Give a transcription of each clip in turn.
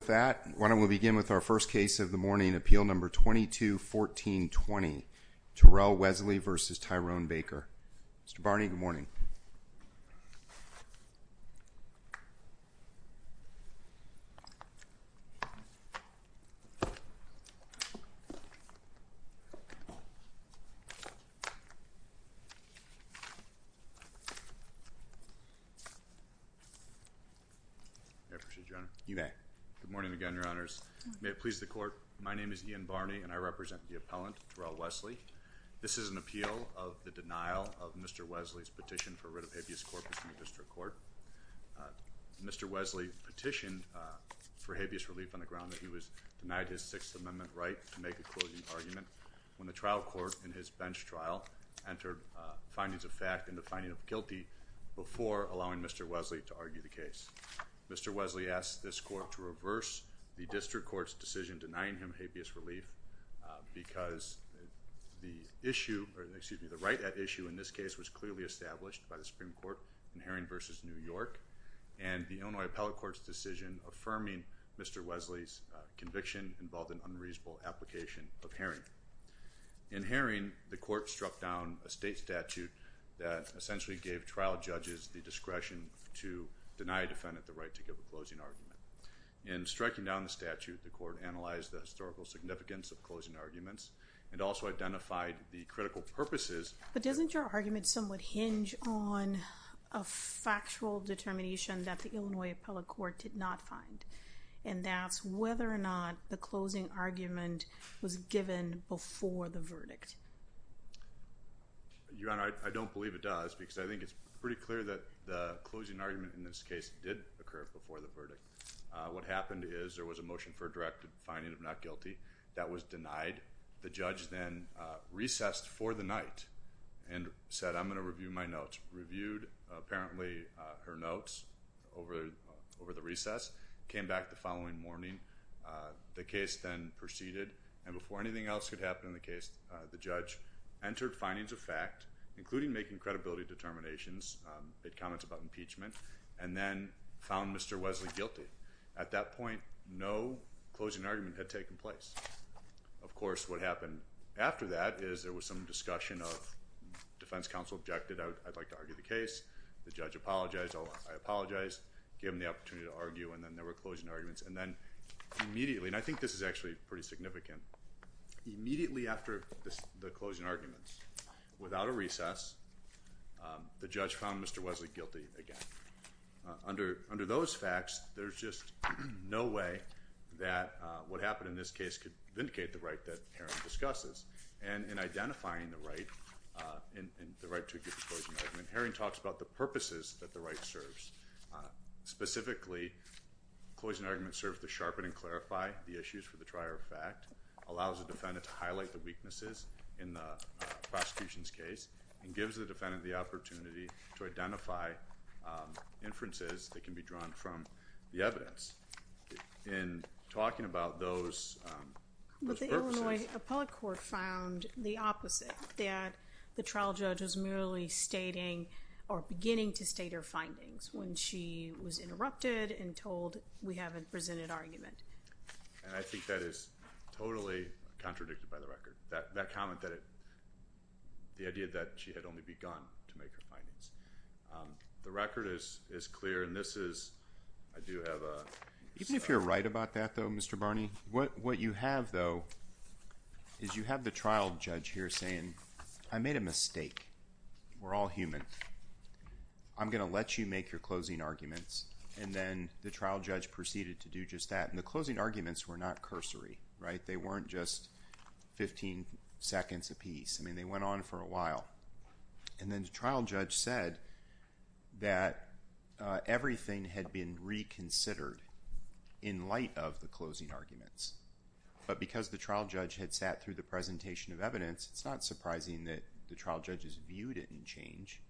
With that, why don't we begin with our first case of the morning, Appeal No. 22-14-20, Terrell Wesley v. Tyrone Baker. Mr. Barney, good morning. May it please the Court, my name is Ian Barney and I represent the appellant, Terrell Wesley. This is an appeal of the denial of Mr. Wesley's petition for writ of habeas corpus in the Sixth Amendment right to make a closing argument when the trial court in his bench trial entered findings of fact in the finding of guilty before allowing Mr. Wesley to argue the case. Mr. Wesley asked this Court to reverse the District Court's decision denying him habeas relief because the issue, excuse me, the right at issue in this case was clearly established by the Supreme Court in Herring v. New York and the Illinois Appellate Court's decision affirming Mr. Wesley's conviction involved an unreasonable application of Herring. In Herring, the Court struck down a state statute that essentially gave trial judges the discretion to deny a defendant the right to give a closing argument. In striking down the statute, the Court analyzed the historical significance of closing arguments and also identified the critical purposes. But doesn't your argument somewhat hinge on a factual determination that the Illinois Appellate Court did not find and that's whether or not the closing argument was given before the verdict? Your Honor, I don't believe it does because I think it's pretty clear that the closing argument in this case did occur before the verdict. What happened is there was a motion for a directed finding of not guilty that was denied. The judge then recessed for the night and said I'm going to review my notes. Reviewed apparently her notes over the recess, came back the following morning. The case then proceeded and before anything else could happen in the case, the judge entered findings of fact including making credibility determinations, made comments about impeachment, and then found Mr. Wesley guilty. At that point, no closing argument had taken place. Of course, what happened after that is there was some discussion of defense counsel objected. I'd like to argue the case. The judge apologized. I apologized. Gave him the opportunity to argue and then there were closing arguments. And then immediately, and I think this is actually pretty significant, immediately after the closing arguments, without a recess, the judge found Mr. Wesley guilty again. Under those facts, there's just no way that what happened in this case could vindicate the right that Herring discusses. And in identifying the right to give a closing argument, Herring talks about the purposes that the right serves. Specifically, closing arguments serve to sharpen and clarify the issues for the trier of fact, allows the defendant to highlight the weaknesses in the prosecution's case, and gives the defendant the opportunity to identify inferences that can be drawn from the evidence. In talking about those purposes... But the Illinois Appellate Court found the opposite, that the trial judge was merely stating or beginning to state her findings when she was interrupted and told we haven't presented argument. And I think that is totally contradicted by the record. That comment that... The idea that she had only begun to make her findings. The record is clear and this is... I do have a... Even if you're right about that, though, Mr. Barney, what you have, though, is you have the trial judge here saying, I made a mistake. We're all human. I'm going to let you make your closing arguments. And then the trial judge proceeded to do just that. And the closing arguments were not cursory, right? They weren't just 15 seconds apiece. I mean, they went on for a while. And then the trial judge said that everything had been reconsidered in light of the closing arguments. But because the trial judge had sat through the presentation of evidence, it's not surprising that the trial judge's view didn't change.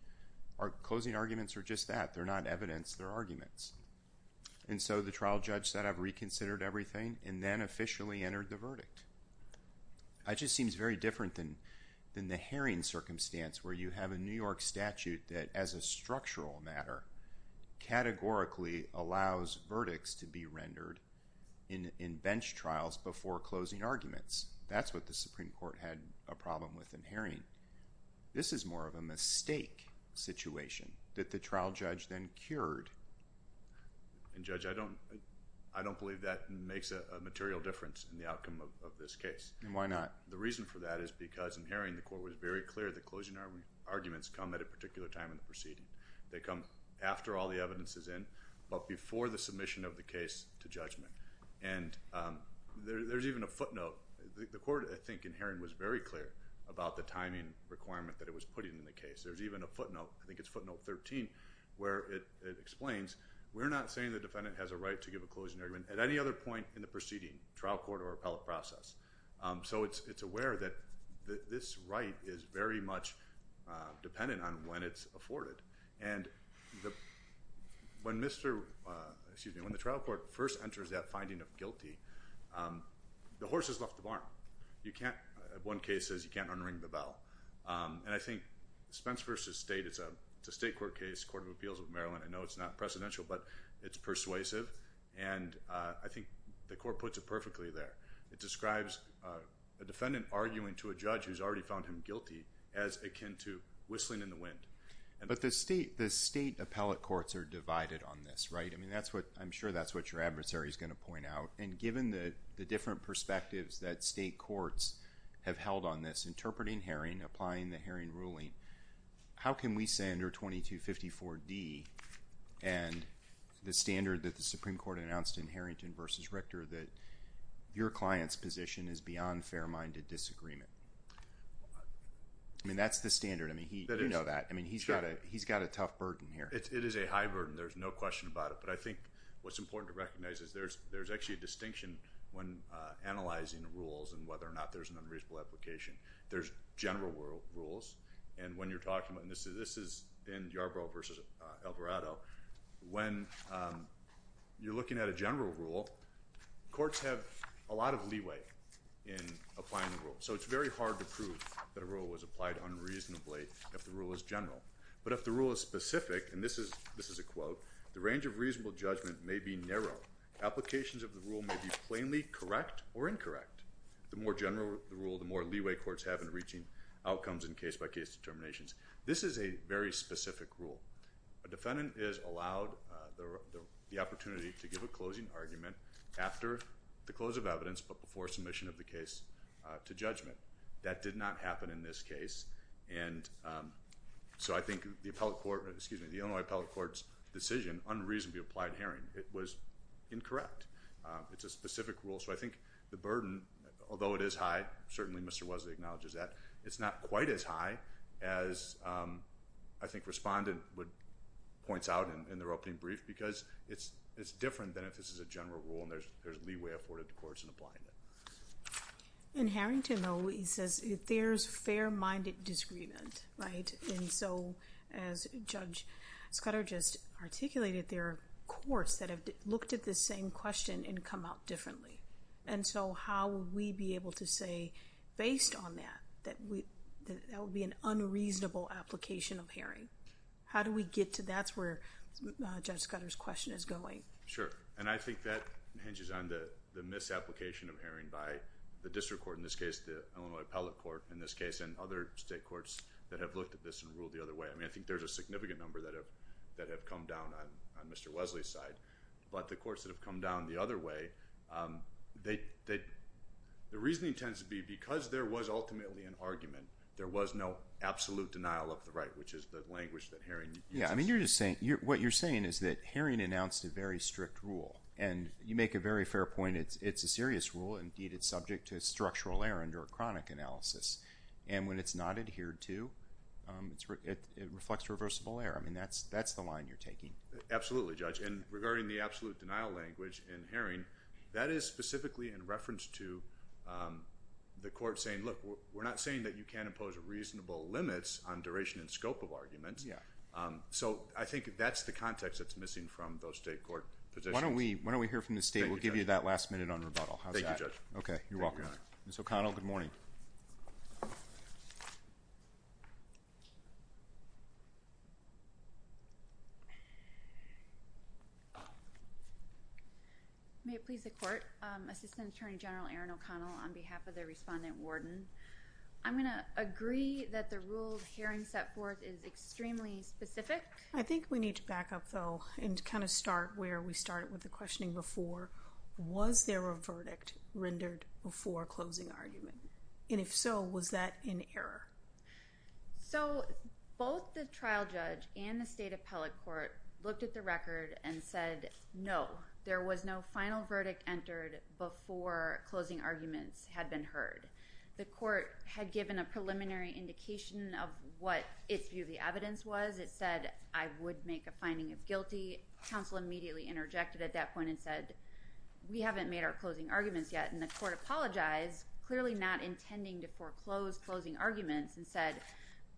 Our closing arguments are just that. They're not evidence. They're arguments. And so the trial judge said, I've reconsidered everything, and then officially entered the verdict. That just seems very different than the Haring circumstance where you have a New York statute that, as a structural matter, categorically allows verdicts to be rendered in bench trials before closing arguments. That's what the Supreme Court had a problem with in Haring. This is more of a mistake situation that the trial judge then cured. And Judge, I don't believe that makes a material difference in the outcome of this case. And why not? The reason for that is because in Haring, the court was very clear that closing arguments come at a particular time in the proceeding. They come after all the evidence is in, but before the submission of the case to judgment. And there's even a footnote. The court, I think, in Haring was very clear about the timing requirement that it was putting in the case. There's even a footnote. I think it's footnote 13 where it explains, we're not saying the defendant has a right to give a closing argument at any other point in the proceeding, trial court or appellate process. So it's aware that this right is very much dependent on when it's afforded. And when the trial court first enters that finding of guilty, the horse has left the barn. One case says you can't unring the bell. And I think Spence v. State, it's a state court case, Court of Appeals of Maryland. I know it's not precedential, but it's persuasive. And I think the court puts it perfectly there. It describes a defendant arguing to a judge who's already found him guilty as akin to whistling in the wind. But the state appellate courts are divided on this, right? I mean, I'm sure that's what your adversary is going to point out. And given the different perspectives that state courts have held on this, interpreting Haring, applying the Haring ruling, how can we say under 2254D and the standard that the Supreme Court announced in Harrington v. Richter that your client's position is beyond fair-minded disagreement? I mean, that's the standard. I mean, you know that. I mean, he's got a tough burden here. It is a high burden. There's no question about it. But I think what's important to recognize is there's actually a distinction when analyzing the rules and whether or not there's an unreasonable application. There's general rules. And when you're talking about this, and this is in Yarbrough v. Alvarado, when you're looking at a general rule, courts have a lot of leeway in applying the rule. So it's very hard to prove that a rule was applied unreasonably if the rule is general. But if the rule is specific, and this is a quote, the range of reasonable judgment may be narrow. Applications of the rule may be plainly correct or incorrect. The more general the rule, the more leeway courts have in reaching outcomes in case-by-case determinations. This is a very specific rule. A defendant is allowed the opportunity to give a closing argument after the close of evidence but before submission of the case to judgment. That did not happen in this case. And so I think the Illinois Appellate Court's decision, unreasonably applied hearing, it was incorrect. It's a specific rule. So I think the burden, although it is high, certainly Mr. Wozniak acknowledges that, it's not quite as high as I think Respondent points out in their opening brief because it's different than if this is a general rule and there's leeway afforded to courts in applying it. In Harrington, though, he says there's fair-minded disagreement, right? And so, as Judge Scudder just articulated, there are courts that have looked at this same question and come out differently. And so how will we be able to say, based on that, that that would be an unreasonable application of hearing? How do we get to that? That's where Judge Scudder's question is going. Sure, and I think that hinges on the misapplication of hearing by the district court, in this case the Illinois Appellate Court, in this case, and other state courts that have looked at this and ruled the other way. I mean, I think there's a significant number that have come down on Mr. Wesley's side. But the courts that have come down the other way, the reasoning tends to be because there was ultimately an argument, there was no absolute denial of the right, which is the language that Haring uses. Yeah, I mean, what you're saying is that Haring announced a very strict rule. And you make a very fair point. It's a serious rule. Indeed, it's subject to structural error under a chronic analysis. And when it's not adhered to, it reflects reversible error. I mean, that's the line you're taking. Absolutely, Judge. And regarding the absolute denial language in Haring, that is specifically in reference to the court saying, look, we're not saying that you can't impose reasonable limits on duration and scope of arguments. So I think that's the context that's missing from those state court positions. Why don't we hear from the state? We'll give you that last minute on rebuttal. Thank you, Judge. Okay, you're welcome. Ms. O'Connell, good morning. May it please the Court, Assistant Attorney General Aaron O'Connell, on behalf of the respondent warden. I'm going to agree that the rule Haring set forth is extremely specific. I think we need to back up, though, and kind of start where we started with the questioning before. Was there a verdict rendered before closing argument? And if so, was that in error? So both the trial judge and the state appellate court looked at the record and said no. There was no final verdict entered before closing arguments had been heard. The court had given a preliminary indication of what its view of the evidence was. It said, I would make a finding of guilty. Counsel immediately interjected at that point and said, we haven't made our closing arguments yet. And the court apologized, clearly not intending to foreclose closing arguments, and said,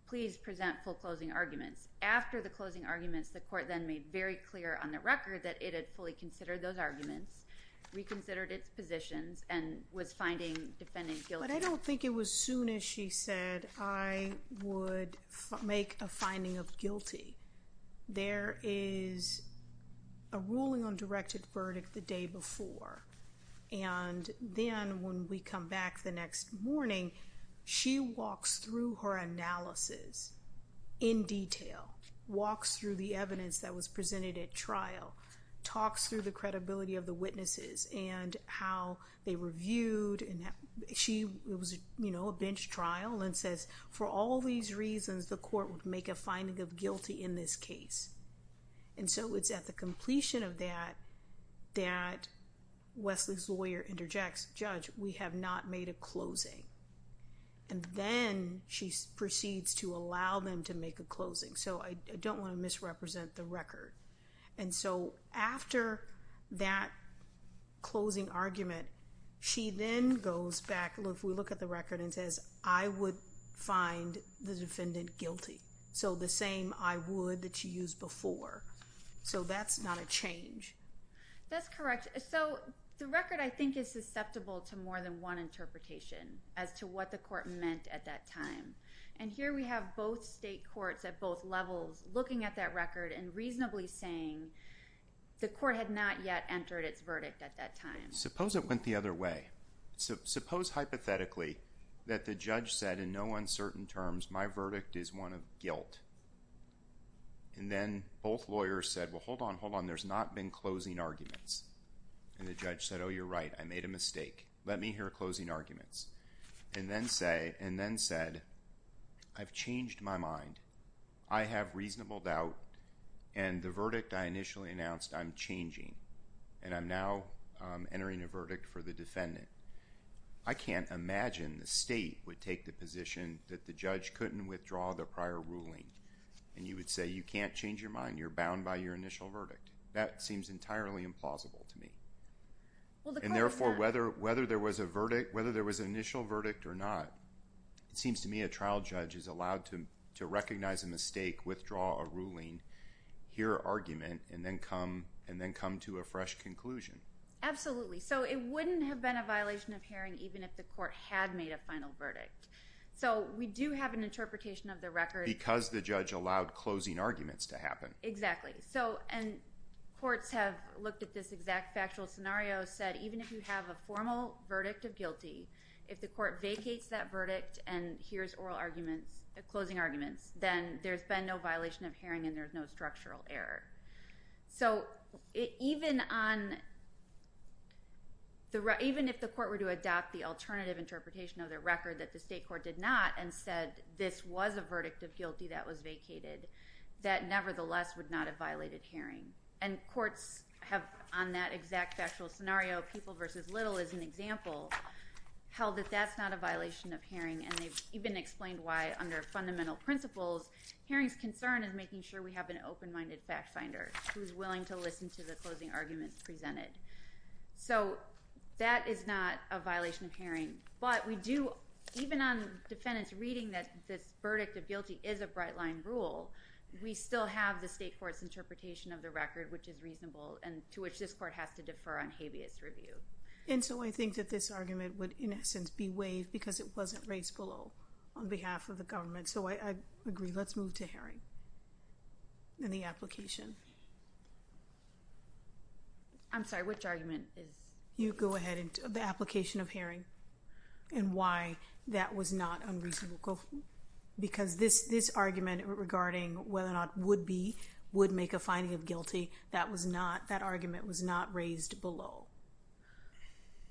please present foreclosing arguments. After the closing arguments, the court then made very clear on the record that it had fully considered those arguments, reconsidered its positions, and was finding defendant guilty. But I don't think it was soon as she said, I would make a finding of guilty. There is a ruling on directed verdict the day before. And then when we come back the next morning, she walks through her analysis in detail, walks through the evidence that was presented at trial, talks through the credibility of the witnesses and how they were viewed. She was, you know, a bench trial and says, for all these reasons, the court would make a finding of guilty in this case. And so it's at the completion of that that Wesley's lawyer interjects, Judge, we have not made a closing. And then she proceeds to allow them to make a closing. So I don't want to misrepresent the record. And so after that closing argument, she then goes back, we look at the record and says, I would find the defendant guilty. So the same I would that you used before. So that's not a change. That's correct. So the record I think is susceptible to more than one interpretation as to what the court meant at that time. And here we have both state courts at both levels looking at that record and reasonably saying the court had not yet entered its verdict at that time. Suppose it went the other way. Suppose hypothetically that the judge said in no uncertain terms, my verdict is one of guilt. And then both lawyers said, well, hold on, hold on. There's not been closing arguments. And the judge said, oh, you're right. I made a mistake. Let me hear closing arguments. And then said, I've changed my mind. I have reasonable doubt. And the verdict I initially announced, I'm changing. And I'm now entering a verdict for the defendant. I can't imagine the state would take the position that the judge couldn't withdraw the prior ruling. And you would say you can't change your mind. You're bound by your initial verdict. That seems entirely implausible to me. And therefore, whether there was an initial verdict or not, it seems to me a trial judge is allowed to recognize a mistake, withdraw a ruling, hear argument, and then come to a fresh conclusion. Absolutely. So it wouldn't have been a violation of hearing even if the court had made a final verdict. So we do have an interpretation of the record. Because the judge allowed closing arguments to happen. And courts have looked at this exact factual scenario, said even if you have a formal verdict of guilty, if the court vacates that verdict and hears closing arguments, then there's been no violation of hearing and there's no structural error. So even if the court were to adopt the alternative interpretation of the record that the state court did not and said this was a verdict of guilty that was vacated, that nevertheless would not have violated hearing. And courts have, on that exact factual scenario, People v. Little is an example, held that that's not a violation of hearing. And they've even explained why, under fundamental principles, hearing's concern is making sure we have an open-minded fact finder who's willing to listen to the closing arguments presented. So that is not a violation of hearing. But we do, even on defendants' reading that this verdict of guilty is a bright-line rule, we still have the state court's interpretation of the record, which is reasonable, and to which this court has to defer on habeas review. And so I think that this argument would, in essence, be waived because it wasn't raised below on behalf of the government. So I agree. Let's move to hearing and the application. I'm sorry, which argument? You go ahead. The application of hearing and why that was not unreasonable because this argument regarding whether or not would be, would make a finding of guilty, that argument was not raised below.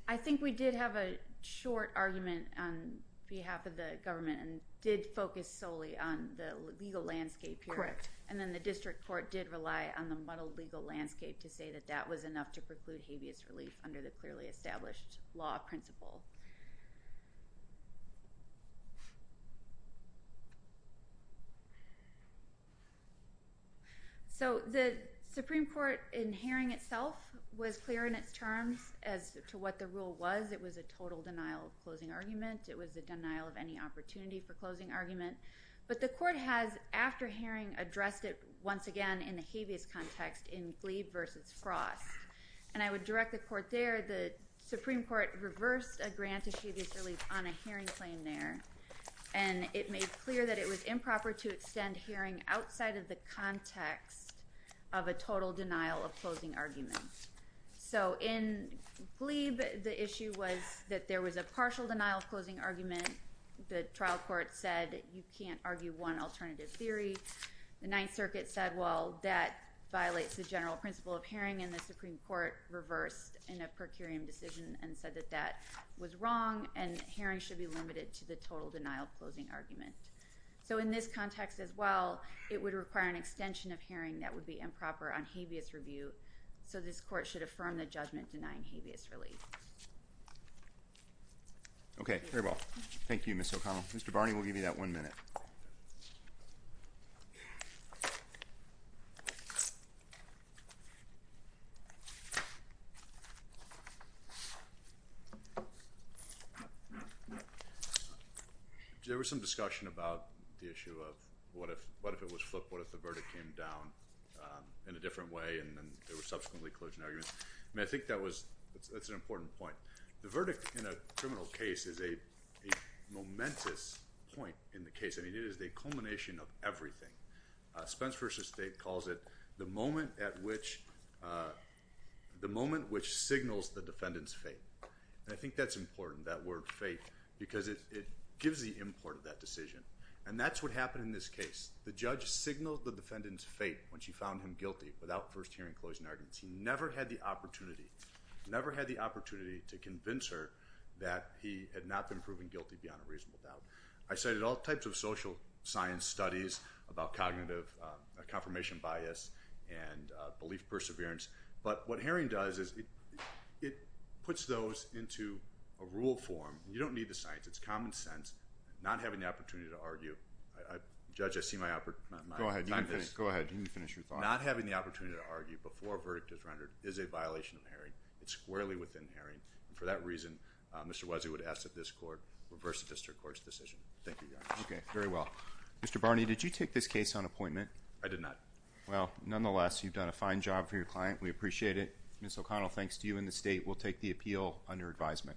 I think we did have a short argument on behalf of the government and did focus solely on the legal landscape here. And then the district court did rely on the model legal landscape to say that that was enough to preclude habeas relief under the clearly established law principle. So the Supreme Court, in hearing itself, was clear in its terms as to what the rule was. It was a total denial of closing argument. It was a denial of any opportunity for closing argument. But the court has, after hearing, addressed it once again in the habeas context in Glebe versus Frost. And I would direct the court there, the Supreme Court reversed a grant of habeas relief on a hearing claim there. And it made clear that it was improper to extend hearing outside of the context of a total denial of closing argument. So in Glebe, the issue was that there was a partial denial of closing argument. The trial court said you can't argue one alternative theory. The Ninth Circuit said, well, that violates the general principle of hearing. And the Supreme Court reversed in a per curiam decision and said that that was wrong and hearing should be limited to the total denial of closing argument. So in this context as well, it would require an extension of hearing that would be improper on habeas review. So this court should affirm the judgment denying habeas relief. Okay. Very well. Thank you, Ms. O'Connell. Mr. Barney, we'll give you that one minute. There was some discussion about the issue of what if it was flipped? What if the verdict came down in a different way and then there were subsequently closing arguments? I mean, I think that's an important point. The verdict in a criminal case is a momentous point in the case. I mean, it is the culmination of everything. Spence v. State calls it the moment which signals the defendant's fate. And I think that's important, that word fate, because it gives the import of that decision. And that's what happened in this case. The judge signaled the defendant's fate when she found him guilty without first hearing closing arguments. He never had the opportunity, never had the opportunity to convince her that he had not been proven guilty beyond a reasonable doubt. I cited all types of social science studies about cognitive confirmation bias and belief perseverance. But what hearing does is it puts those into a rule form. You don't need the science. It's common sense. Not having the opportunity to argue. Judge, I see my opportunity. Go ahead. Go ahead. You can finish your thought. Not having the opportunity to argue before a verdict is rendered is a violation of hearing. It's squarely within hearing. And for that reason, Mr. Wesley would ask that this court reverse the district court's decision. Thank you very much. OK, very well. Mr. Barney, did you take this case on appointment? I did not. Well, nonetheless, you've done a fine job for your client. We appreciate it. Ms. O'Connell, thanks to you and the state, we'll take the appeal under advisement.